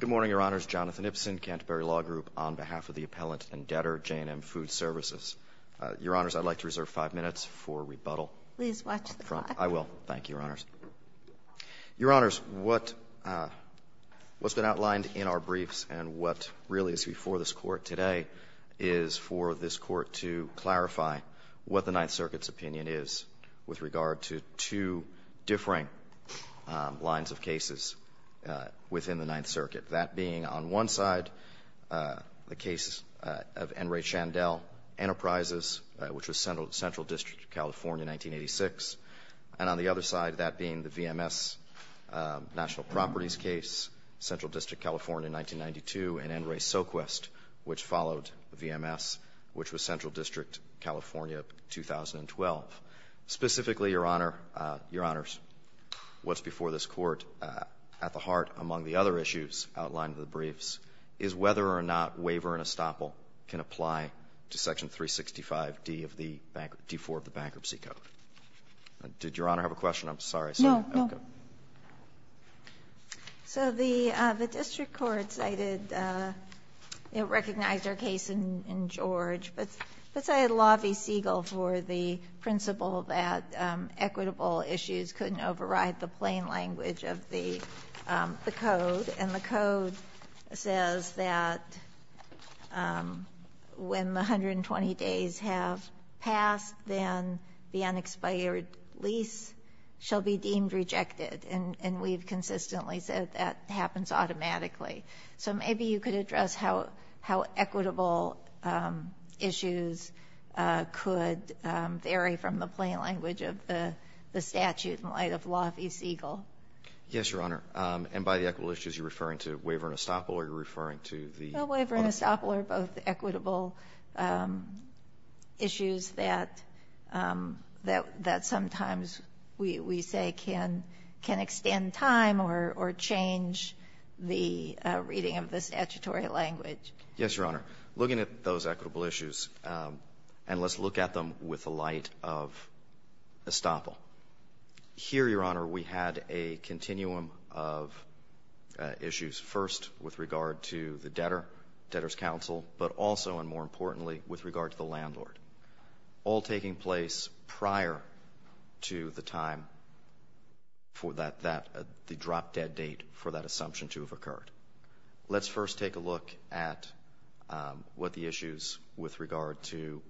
Good morning, Your Honors. Jonathan Ipsen, Canterbury Law Group, on behalf of the Appellant and Debtor, J&M Food Services. Your Honors, I'd like to reserve five minutes for rebuttal. Please watch the clock. I will. Thank you, Your Honors. Your Honors, what's been outlined in our briefs and what really is before this Court today is for this Court to clarify what the Ninth Circuit's opinion is with regard to two differing lines of cases within the Ninth Circuit, that being on one side the case of N. Ray Chandel, Enterprises, which was Central District, California, 1986, and on the other side, that being the V.M.S. National Properties case, Central District, California, 1992, and N. Ray Soquist, which followed V.M.S., which was Central District. So really, Your Honors, what's before this Court at the heart, among the other issues outlined in the briefs, is whether or not waiver and estoppel can apply to Section 365d of the Bankruptcy Code. Did Your Honor have a question? I'm sorry. No. Okay. So the district court cited, it recognized our case in George, but cited Law v. Siegel for the principle that equitable issues couldn't override the plain language of the Code, and the Code says that when the 120 days have passed, then the unexpired lease shall be deemed rejected, and we've consistently said that happens automatically. So maybe you could address how equitable issues could vary from the plain language of the statute in light of Law v. Siegel. Yes, Your Honor. And by the equitable issues, you're referring to waiver and estoppel, or are you referring to the other? No. Waiver and estoppel are both equitable issues that sometimes we say can extend time or change the reading of the statutory language. Yes, Your Honor. Looking at those equitable issues, and let's look at them with the light of estoppel. Here, Your Honor, we had a continuum of issues, first with regard to the debtor, debtor's counsel, but also and more importantly with regard to the landlord, all taking place prior to the time for that, the drop-dead date for that assumption to have occurred. Let's first take a look at what the issues with regard to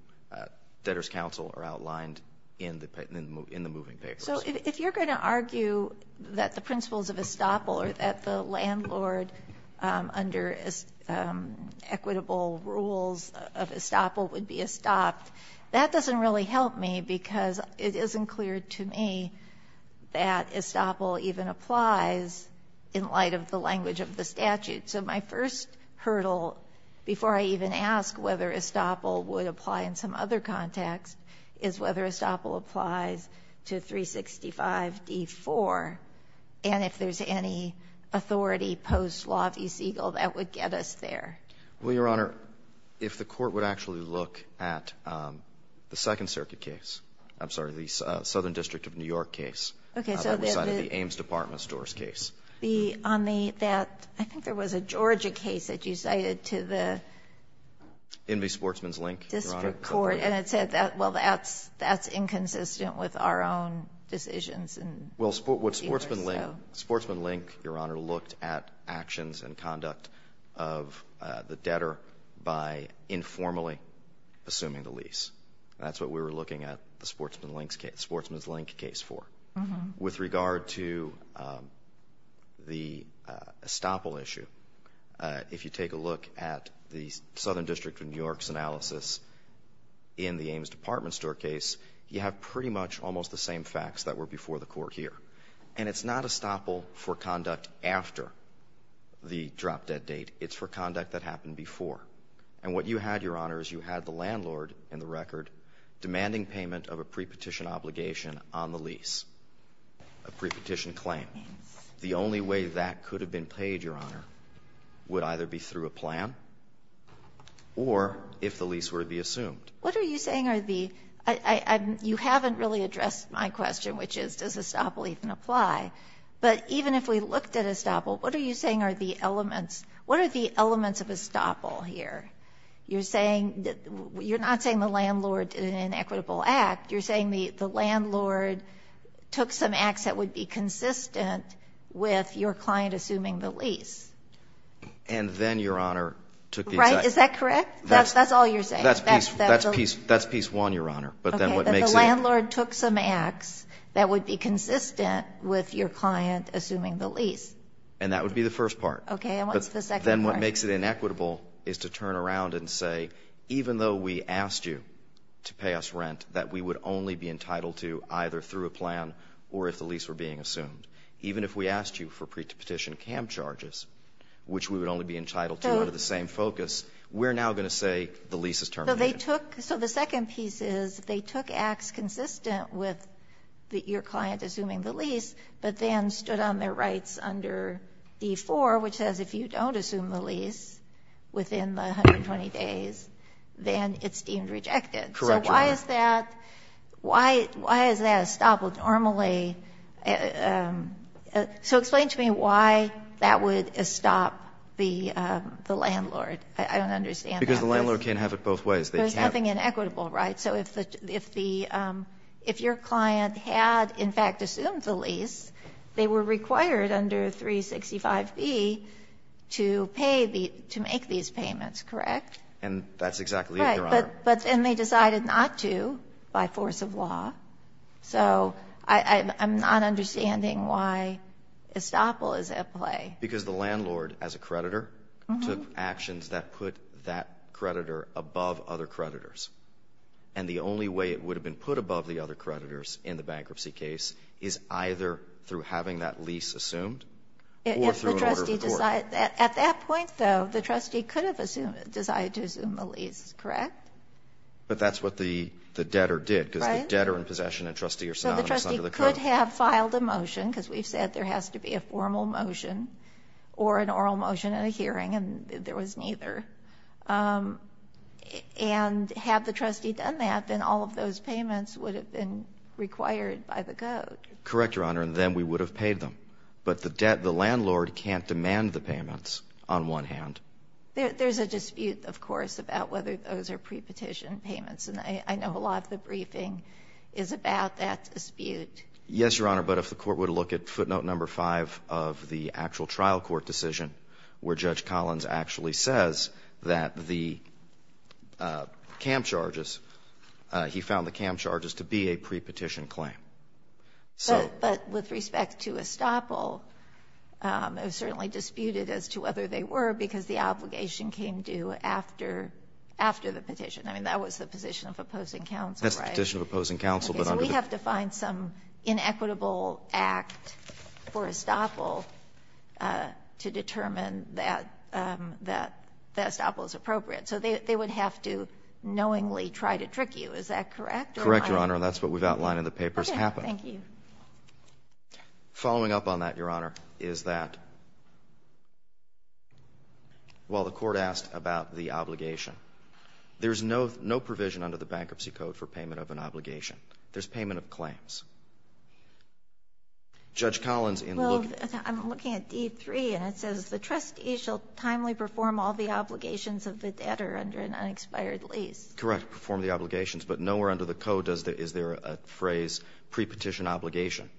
debtor's counsel are outlined in the moving papers. So if you're going to argue that the principles of estoppel or that the landlord under equitable rules of estoppel would be estopped, that doesn't really help me because it isn't clear to me that estoppel even applies in light of the language of the statute. So my first hurdle, before I even ask whether estoppel would apply in some other context, is whether estoppel applies to 365d-4, and if there's any authority post-law v. Siegel that would get us there. Well, Your Honor, if the Court would actually look at the Second Circuit case, I'm sorry, the Southern District of New York case that we cited, the Ames Department of Stores case. The — on the — that — I think there was a Georgia case that you cited to the Sportsman's Link, Your Honor. District court. And it said that — well, that's inconsistent with our own decisions and — Well, what Sportsman Link — Sportsman Link, Your Honor, looked at actions and conduct of the debtor by informally assuming the lease. That's what we were looking at the Sportsman's Link case for. With regard to the estoppel issue, if you take a look at the Southern District of New York's analysis in the Ames Department Store case, you have pretty much almost the same facts that were before the Court here. And it's not estoppel for conduct after the drop-dead date. It's for conduct that happened before. And what you had, Your Honor, is you had the landlord in the record demanding payment of a pre-petition obligation on the lease, a pre-petition claim. The only way that could have been paid, Your Honor, would either be through a plan or if the lease were to be assumed. What are you saying are the — you haven't really addressed my question, which is, does estoppel even apply? But even if we looked at estoppel, what are you saying are the elements — what are the elements of estoppel here? You're saying — you're not saying the landlord did an inequitable act. You're saying the landlord took some acts that would be consistent with your client assuming the lease. And then, Your Honor, took the exact — Right. Is that correct? That's all you're saying? That's piece one, Your Honor. But then what makes it — Okay. But the landlord took some acts that would be consistent with your client assuming the lease. And that would be the first part. Okay. And what's the second part? Then what makes it inequitable is to turn around and say, even though we asked you to pay us rent that we would only be entitled to either through a plan or if the lease were being assumed, even if we asked you for petitioned camp charges, which we would only be entitled to under the same focus, we're now going to say the lease is terminated. So they took — so the second piece is they took acts consistent with your client assuming the lease, but then stood on their rights under D-4, which says if you don't assume the lease within the 120 days, then it's deemed rejected. Correct, Your Honor. So why is that — why is that a stop? Well, normally — so explain to me why that would stop the landlord. I don't understand that. Because the landlord can't have it both ways. There's nothing inequitable, right? So if the — if your client had, in fact, assumed the lease, they were required under 365B to pay the — to make these payments, correct? And that's exactly it, Your Honor. But then they decided not to by force of law. So I'm not understanding why estoppel is at play. Because the landlord, as a creditor, took actions that put that creditor above other creditors. And the only way it would have been put above the other creditors in the bankruptcy case is either through having that lease assumed or through an order of the court. At that point, though, the trustee could have assumed — decided to assume the lease, correct? But that's what the debtor did, because the debtor in possession and the trustee are synonymous under the code. So the trustee could have filed a motion, because we've said there has to be a formal motion, or an oral motion at a hearing, and there was neither. And had the trustee done that, then all of those payments would have been required by the code. Correct, Your Honor, and then we would have paid them. But the debt — the landlord can't demand the payments on one hand. There's a dispute, of course, about whether those are prepetition payments. And I know a lot of the briefing is about that dispute. Yes, Your Honor. But if the Court would look at footnote number 5 of the actual trial court decision, where Judge Collins actually says that the camp charges — he found the camp charges to be a prepetition claim. But with respect to estoppel, it was certainly disputed as to whether they were, because the obligation came due after — after the petition. I mean, that was the position of opposing counsel, right? That's the position of opposing counsel, but under the — Okay. So we have to find some inequitable act for estoppel to determine that — that estoppel is appropriate. So they would have to knowingly try to trick you. Is that correct, Your Honor? Correct, Your Honor, and that's what we've outlined in the papers. Okay. Thank you. Following up on that, Your Honor, is that while the Court asked about the obligation, there's no — no provision under the Bankruptcy Code for payment of an obligation. There's payment of claims. Judge Collins in the — Well, I'm looking at D3, and it says the trustee shall timely perform all the obligations of the debtor under an unexpired lease. Correct. Perform the obligations. But nowhere under the Code does the — is there a phrase, pre-petition obligation,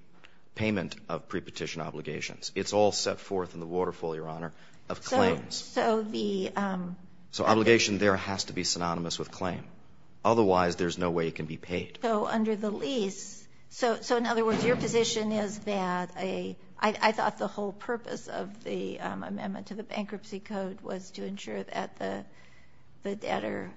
payment of pre-petition obligations. It's all set forth in the Waterfall, Your Honor, of claims. So the — So obligation there has to be synonymous with claim. Otherwise, there's no way it can be paid. So under the lease — so in other words, your position is that a — I thought the whole purpose of the amendment to the Bankruptcy Code was to ensure that the debtor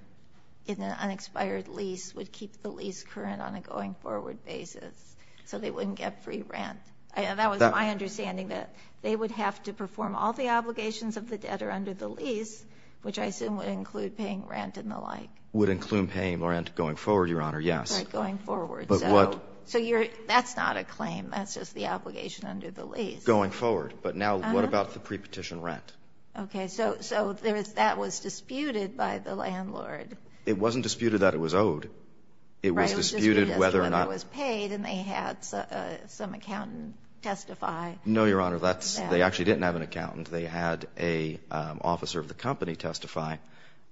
in an unexpired lease would keep the lease current on a going-forward basis so they wouldn't get free rent. That was my understanding, that they would have to perform all the obligations of the debtor under the lease, which I assume would include paying rent and the like. Would include paying rent going forward, Your Honor, yes. Right, going forward. So you're — that's not a claim. That's just the obligation under the lease. Going forward. But now what about the pre-petition rent? Okay. So — so there is — that was disputed by the landlord. It wasn't disputed that it was owed. It was disputed whether or not — It was disputed as to whether it was paid, and they had some accountant testify. No, Your Honor. That's — they actually didn't have an accountant. They had an officer of the company testify,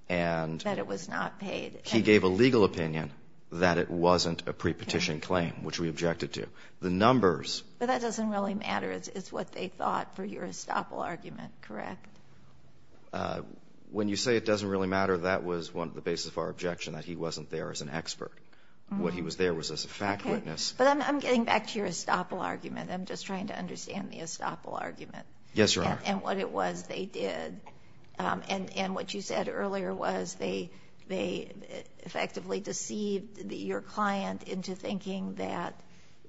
and — That it was not paid. He gave a legal opinion that it wasn't a pre-petition claim, which we objected to. The numbers — But that doesn't really matter. It's what they thought for your estoppel argument, correct? When you say it doesn't really matter, that was one of the basis of our objection, that he wasn't there as an expert. What he was there was as a fact witness. But I'm getting back to your estoppel argument. I'm just trying to understand the estoppel argument. Yes, Your Honor. And what it was they did. And what you said earlier was they effectively deceived your client into thinking that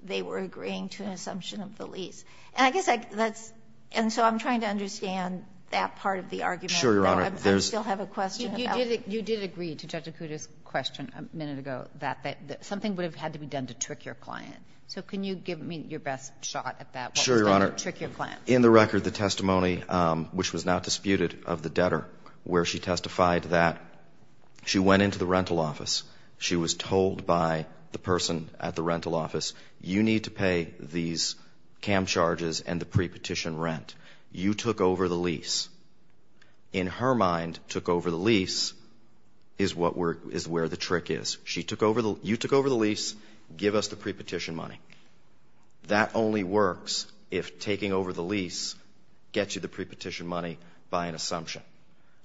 they were agreeing to an assumption of the lease. And I guess that's — and so I'm trying to understand that part of the argument. Sure, Your Honor. I still have a question about — You did agree to Judge Acuda's question a minute ago that something would have had to be done to trick your client. So can you give me your best shot at that? Sure, Your Honor. What was going to trick your client? In the record, the testimony, which was not disputed, of the debtor, where she testified that she went into the rental office, she was told by the person at the rental office, you need to pay these CAM charges and the pre-petition rent. You took over the lease. In her mind, took over the lease is what we're — is where the trick is. She took over the — you took over the lease, give us the pre-petition money. That only works if taking over the lease gets you the pre-petition money by an assumption.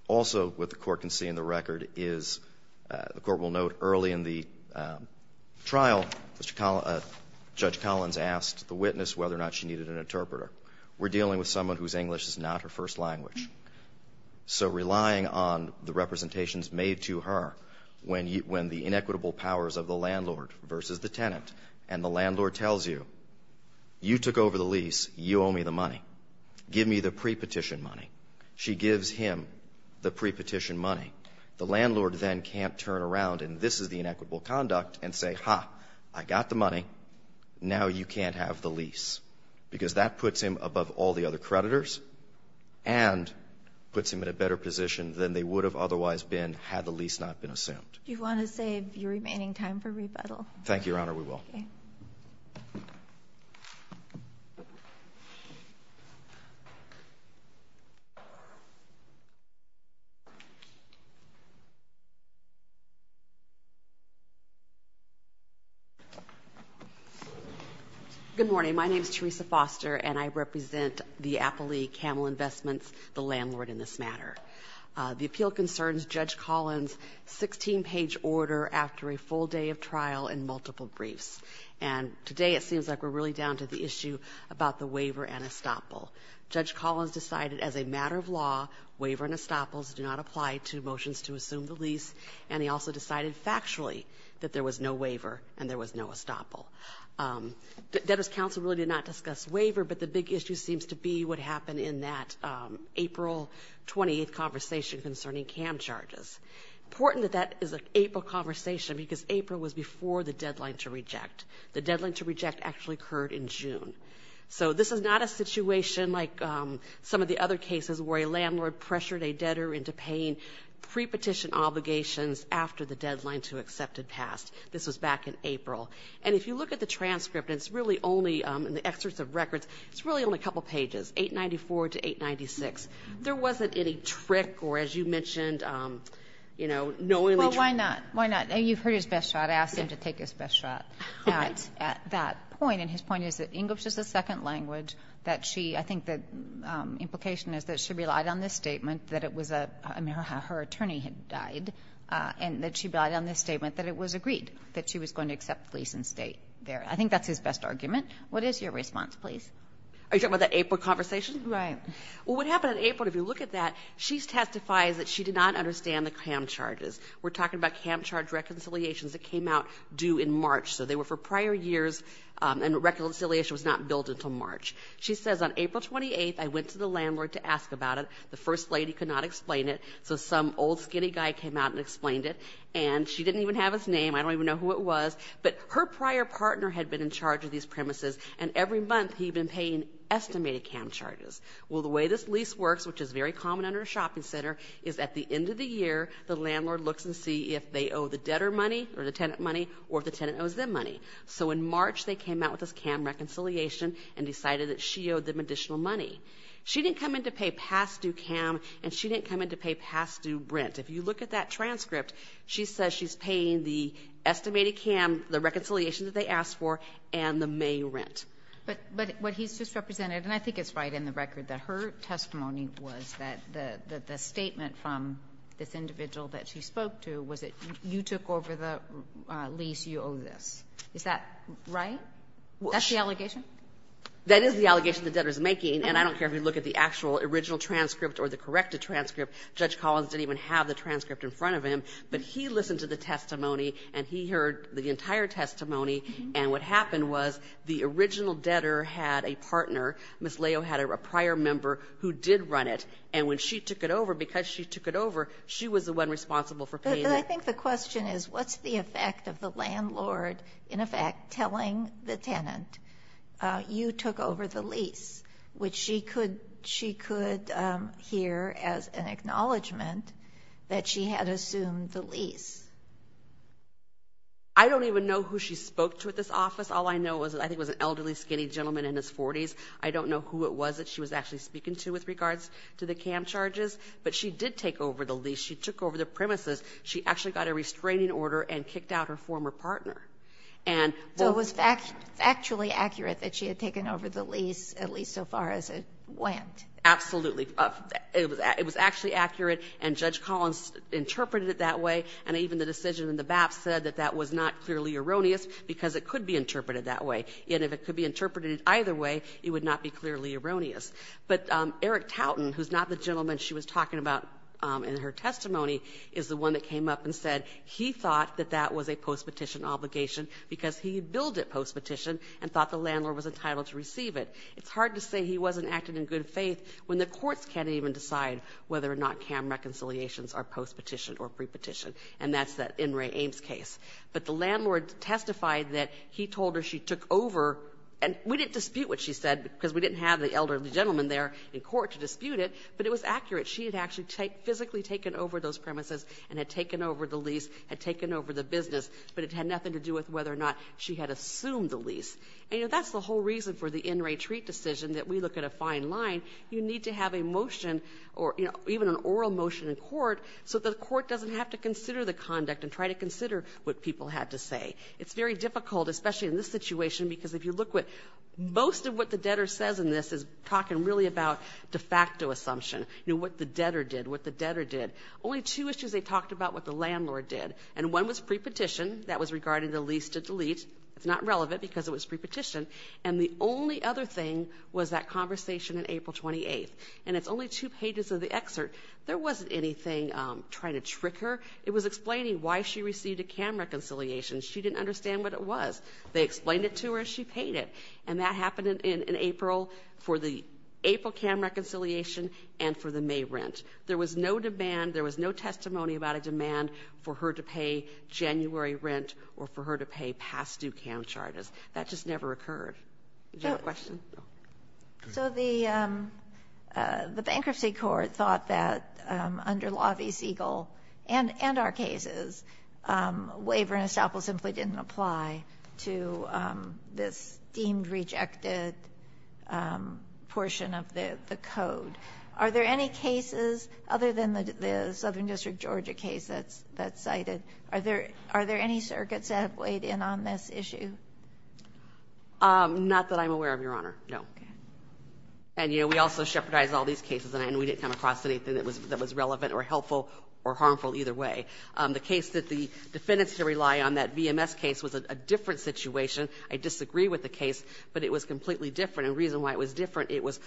Also, what the Court can see in the record is — the Court will note early in the trial, Judge Collins asked the witness whether or not she needed an interpreter. We're dealing with someone whose English is not her first language. So relying on the representations made to her, when the inequitable powers of the landlord versus the tenant, and the landlord tells you, you took over the lease, you owe me the money, give me the pre-petition money, she gives him the pre-petition money, the landlord then can't turn around, and this is the inequitable conduct, and say, ha, I got the money, now you can't have the lease. Because that puts him above all the other creditors and puts him in a better position than they would have otherwise been had the lease not been assumed. You want to save your remaining time for rebuttal? Thank you, Your Honor. We will. Okay. Good morning. My name is Teresa Foster, and I represent the Appellee Camel Investments, the landlord in this matter. The appeal concerns Judge Collins' 16-page order after a full day of trial and multiple briefs. And today, it seems like we're really down to the issue about the waiver and estoppel. Judge Collins decided as a matter of law, waiver and estoppels do not apply to motions to assume the lease, and he also decided factually that there was no waiver and there was no estoppel. Debtors' Council really did not discuss waiver, but the big issue seems to be what happened in that April 28th conversation concerning CAM charges. Important that that is an April conversation, because April was before the deadline to reject. The deadline to reject actually occurred in June. So this is not a situation like some of the other cases where a landlord pressured a debtor into paying pre-petition obligations after the deadline to accept had passed. This was back in April. And if you look at the transcript, it's really only, in the excerpts of records, it's really only a couple of pages, 894 to 896. There wasn't any trick or, as you mentioned, you know, knowingly tricked. Well, why not? Why not? You've heard his best shot. I asked him to take his best shot at that point, and his point is that English is a second language that she, I think the implication is that she relied on this statement, that it was a, her attorney had died, and that she relied on this statement that it was agreed, that she was going to accept lease and stay there. I think that's his best argument. What is your response, please? Are you talking about that April conversation? Right. Well, what happened in April, if you look at that, she testifies that she did not understand the CAM charges. We're talking about CAM charge reconciliations that came out due in March. So they were for prior years, and reconciliation was not billed until March. She says, on April 28th, I went to the landlord to ask about it. The first lady could not explain it, so some old skinny guy came out and explained it, and she didn't even have his name, I don't even know who it was, but her prior partner had been in charge of these premises, and every month he'd been paying estimated CAM charges. Well, the way this lease works, which is very common under a shopping center, is at the end of the year, the landlord looks and see if they owe the debtor money or the tenant money or if the tenant owes them money. So in March, they came out with this CAM reconciliation and decided that she owed them additional money. She didn't come in to pay past due CAM, and she didn't come in to pay past due rent. If you look at that transcript, she says she's paying the estimated CAM, the reconciliation that they asked for, and the May rent. But what he's just represented, and I think it's right in the record, that her testimony was that the statement from this individual that she spoke to was that you took over the lease, you owe this. Is that right? That's the allegation? That is the allegation the debtor is making, and I don't care if you look at the actual original transcript or the corrected transcript. Judge Collins didn't even have the transcript in front of him, but he listened to the testimony, and he heard the entire testimony, and what happened was the original debtor had a partner. Ms. Leo had a prior member who did run it, and when she took it over, because she took it over, she was the one responsible for paying it. But I think the question is, what's the effect of the landlord, in effect, telling the tenant, you took over the lease, which she could hear as an acknowledgment that she had assumed the lease? I don't even know who she spoke to at this office. All I know is I think it was an elderly, skinny gentleman in his 40s. I don't know who it was that she was actually speaking to with regards to the CAM charges, but she did take over the lease. She took over the premises. She actually got a restraining order and kicked out her former partner. And what was factually accurate that she had taken over the lease, at least so far as it went? Absolutely. It was actually accurate, and Judge Collins interpreted it that way, and even the decision in the BAP said that that was not clearly erroneous because it could be interpreted that way. And if it could be interpreted either way, it would not be clearly erroneous. But Eric Tauten, who's not the gentleman she was talking about in her testimony, is the one that came up and said he thought that that was a postpetition obligation because he had billed it postpetition and thought the landlord was entitled to receive it. It's hard to say he wasn't acting in good faith when the courts can't even decide whether or not CAM reconciliations are postpetition or prepetition, and that's that In re Ames case. But the landlord testified that he told her she took over. And we didn't dispute what she said because we didn't have the elderly gentleman there in court to dispute it, but it was accurate. She had actually physically taken over those premises and had taken over the lease, had taken over the business, but it had nothing to do with whether or not she had assumed the lease. And, you know, that's the whole reason for the in re treat decision that we look at a fine line. You need to have a motion or, you know, even an oral motion in court so that the court doesn't have to consider the conduct and try to consider what people had to say. It's very difficult, especially in this situation, because if you look what most of the people said, they talked about what the debtor did, what the debtor did, only two issues they talked about what the landlord did, and one was prepetition. That was regarding the lease to delete. It's not relevant because it was prepetition, and the only other thing was that conversation in April 28th, and it's only two pages of the excerpt. There wasn't anything trying to trick her. It was explaining why she received a CAM reconciliation. She didn't understand what it was. They explained it to her, and she paid it, and that happened in April for the April CAM reconciliation and for the May rent. There was no demand, there was no testimony about a demand for her to pay January rent or for her to pay past-due CAM charters. That just never occurred. Do you have a question? No. Ginsburg. So the bankruptcy court thought that under Law v. Siegel and our cases, waiver and estoppel simply didn't apply to this deemed rejected portion of the code. Are there any cases other than the Southern District, Georgia case that's cited, are there any circuits that have weighed in on this issue? Not that I'm aware of, Your Honor, no. Okay. And, you know, we also shepherdized all these cases, and we didn't come across anything that was relevant or helpful or harmful either way. The case that the defendants had to rely on, that VMS case, was a different situation. I disagree with the case, but it was completely different. And the reason why it was different, it was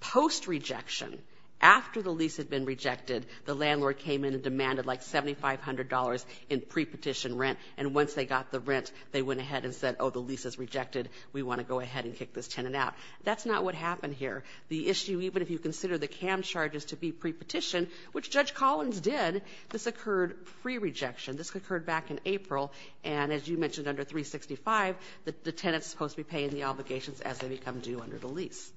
post-rejection. After the lease had been rejected, the landlord came in and demanded, like, $7,500 in pre-petition rent, and once they got the rent, they went ahead and said, oh, the lease is rejected, we want to go ahead and kick this tenant out. That's not what happened here. The issue, even if you consider the CAM charges to be pre-petition, which Judge Collins did, this occurred pre-rejection. This occurred back in April, and as you mentioned, under 365, the tenant is supposed to be paying the obligations as they become due under the lease.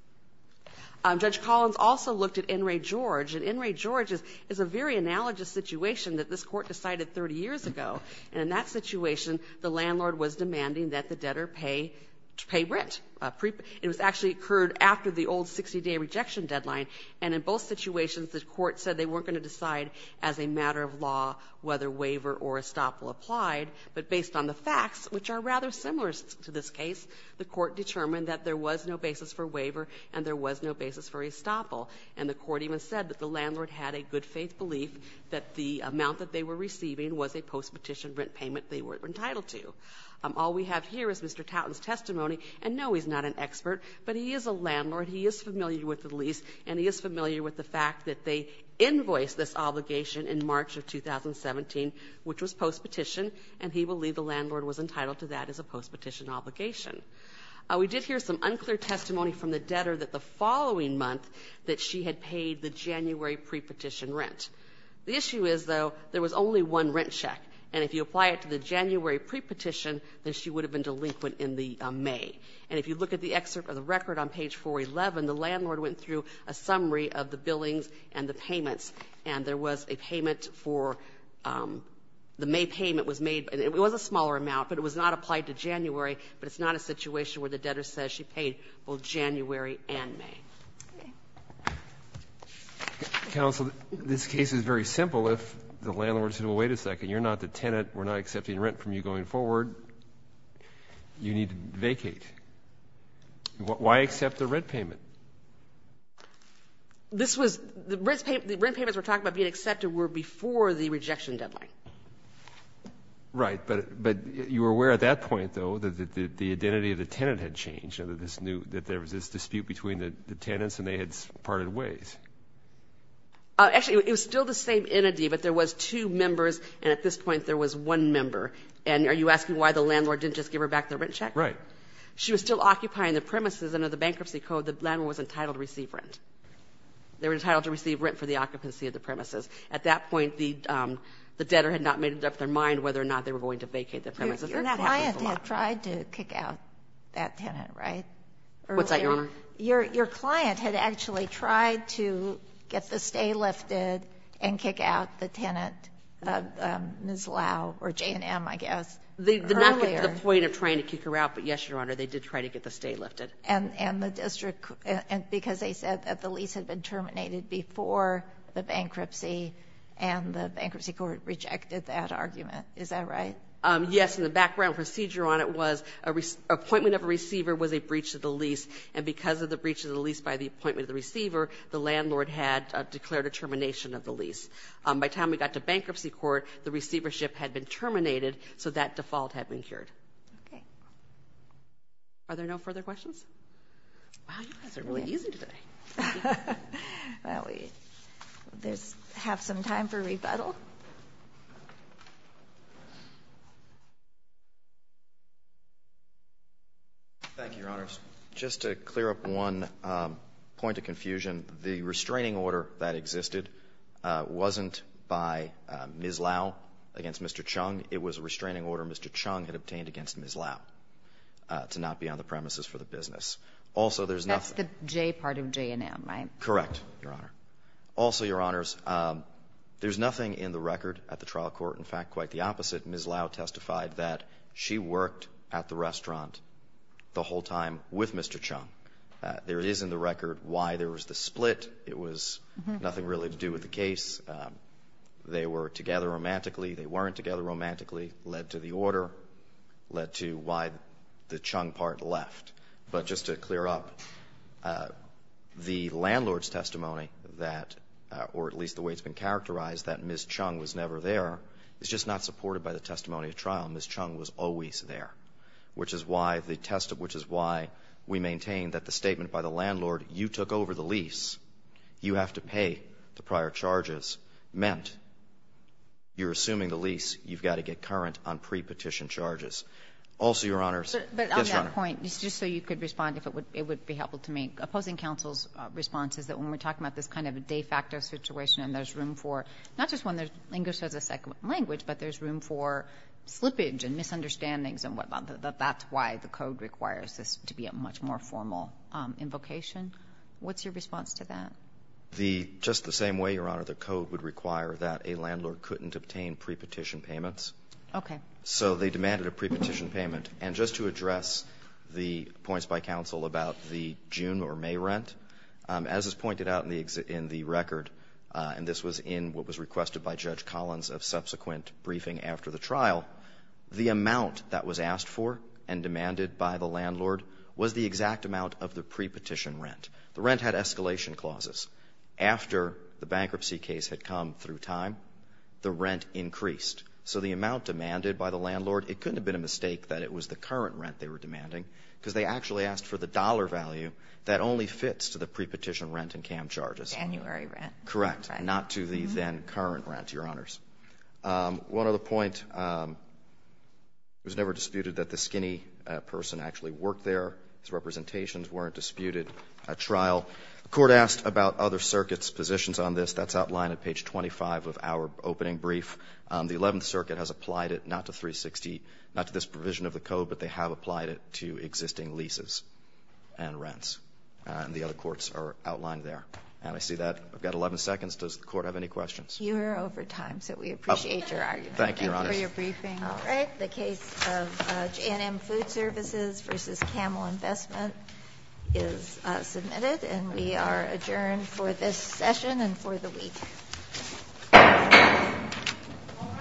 Judge Collins also looked at In re George, and In re George is a very analogous situation that this Court decided 30 years ago. And in that situation, the landlord was demanding that the debtor pay rent. It was actually occurred after the old 60-day rejection deadline, and in both situations, the Court said they weren't going to decide as a matter of law whether waiver or estoppel applied. But based on the facts, which are rather similar to this case, the Court determined that there was no basis for waiver and there was no basis for estoppel. And the Court even said that the landlord had a good-faith belief that the amount that they were receiving was a post-petition rent payment they were entitled to. All we have here is Mr. Tauten's testimony, and no, he's not an expert, but he is a landlord. He is familiar with the lease, and he is familiar with the fact that they invoiced this obligation in March of 2017, which was post-petition, and he believed the landlord was entitled to that as a post-petition obligation. We did hear some unclear testimony from the debtor that the following month that she had paid the January pre-petition rent. The issue is, though, there was only one rent check, and if you apply it to the January pre-petition, then she would have been delinquent in the May. And if you look at the excerpt of the record on page 411, the landlord went through a summary of the billings and the payments, and there was a payment for the May payment was made, and it was a smaller amount, but it was not applied to January, but it's not a situation where the debtor says she paid both January and May. Breyer. Counsel, this case is very simple if the landlord said, well, wait a second, you're not the tenant, we're not accepting rent from you going forward, you need to vacate. Why accept the rent payment? This was, the rent payments we're talking about being accepted were before the rejection deadline. Right, but you were aware at that point, though, that the identity of the tenant had changed, that there was this dispute between the tenants and they had parted ways. Actually, it was still the same entity, but there was two members, and at this point, there was one member. And are you asking why the landlord didn't just give her back the rent check? Right. She was still occupying the premises, and under the Bankruptcy Code, the landlord was entitled to receive rent. They were entitled to receive rent for the occupancy of the premises. At that point, the debtor had not made it up their mind whether or not they were going to vacate the premises. Your client had tried to kick out that tenant, right? What's that, Your Honor? Your client had actually tried to get the stay lifted and kick out the tenant, Ms. Lau, or J&M, I guess, earlier. They did not get to the point of trying to kick her out, but, yes, Your Honor, they did try to get the stay lifted. And the district, because they said that the lease had been terminated before the bankruptcy, and the Bankruptcy Court rejected that argument. Is that right? Yes. And the background procedure on it was an appointment of a receiver was a breach of the lease, and because of the breach of the lease by the appointment of the receiver, the landlord had declared a termination of the lease. By the time we got to Bankruptcy Court, the receivership had been terminated, so that default had been cured. Okay. Are there no further questions? Wow, you guys are really easy today. Well, we have some time for rebuttal. Thank you, Your Honors. Just to clear up one point of confusion, the restraining order that existed wasn't by Ms. Lau against Mr. Chung. It was a restraining order Mr. Chung had obtained against Ms. Lau to not be on the premises for the business. Also, there's nothing That's the J part of J&M, right? Correct, Your Honor. Also, Your Honors, there's nothing in the record at the trial court, in fact, quite the opposite. Ms. Lau testified that she worked at the restaurant the whole time with Mr. Chung. There is in the record why there was the split. It was nothing really to do with the case. They were together romantically. They weren't together romantically. It led to the order, led to why the Chung part left. But just to clear up, the landlord's testimony that, or at least the way it's been characterized, that Ms. Chung was never there is just not supported by the testimony at trial. Ms. Chung was always there, which is why the test of which is why we maintain that the statement by the landlord, you took over the lease, you have to pay the prior charges, meant you're assuming the lease, you've got to get current on pre-petition charges. Also, Your Honors, yes, Your Honor. But on that point, just so you could respond, if it would be helpful to me, opposing counsel's response is that when we're talking about this kind of de facto situation and there's room for not just when there's English as a second language, but there's room for slippage and misunderstandings and whatnot, that that's why the code requires this to be a much more formal invocation. What's your response to that? The, just the same way, Your Honor, the code would require that a landlord couldn't obtain pre-petition payments. Okay. So they demanded a pre-petition payment. And just to address the points by counsel about the June or May rent, as is pointed out in the record, and this was in what was requested by Judge Collins of subsequent briefing after the trial, the amount that was asked for and demanded by the landlord was the exact amount of the pre-petition rent. The rent had escalation clauses. After the bankruptcy case had come through time, the rent increased. So the amount demanded by the landlord, it couldn't have been a mistake that it was the current rent they were demanding, because they actually asked for the dollar value that only fits to the pre-petition rent and CAM charges. January rent. Correct. Not to the then current rent, Your Honors. One other point. It was never disputed that the skinny person actually worked there. His representations weren't disputed at trial. The Court asked about other circuits' positions on this. That's outlined at page 25 of our opening brief. The Eleventh Circuit has applied it not to 360, not to this provision of the code, but they have applied it to existing leases and rents. And the other courts are outlined there. And I see that. I've got 11 seconds. Does the Court have any questions? Thank you, Your Honor. Thank you for your briefing. All right. The case of J&M Food Services v. Camel Investment is submitted, and we are adjourned for this session and for the week. All right.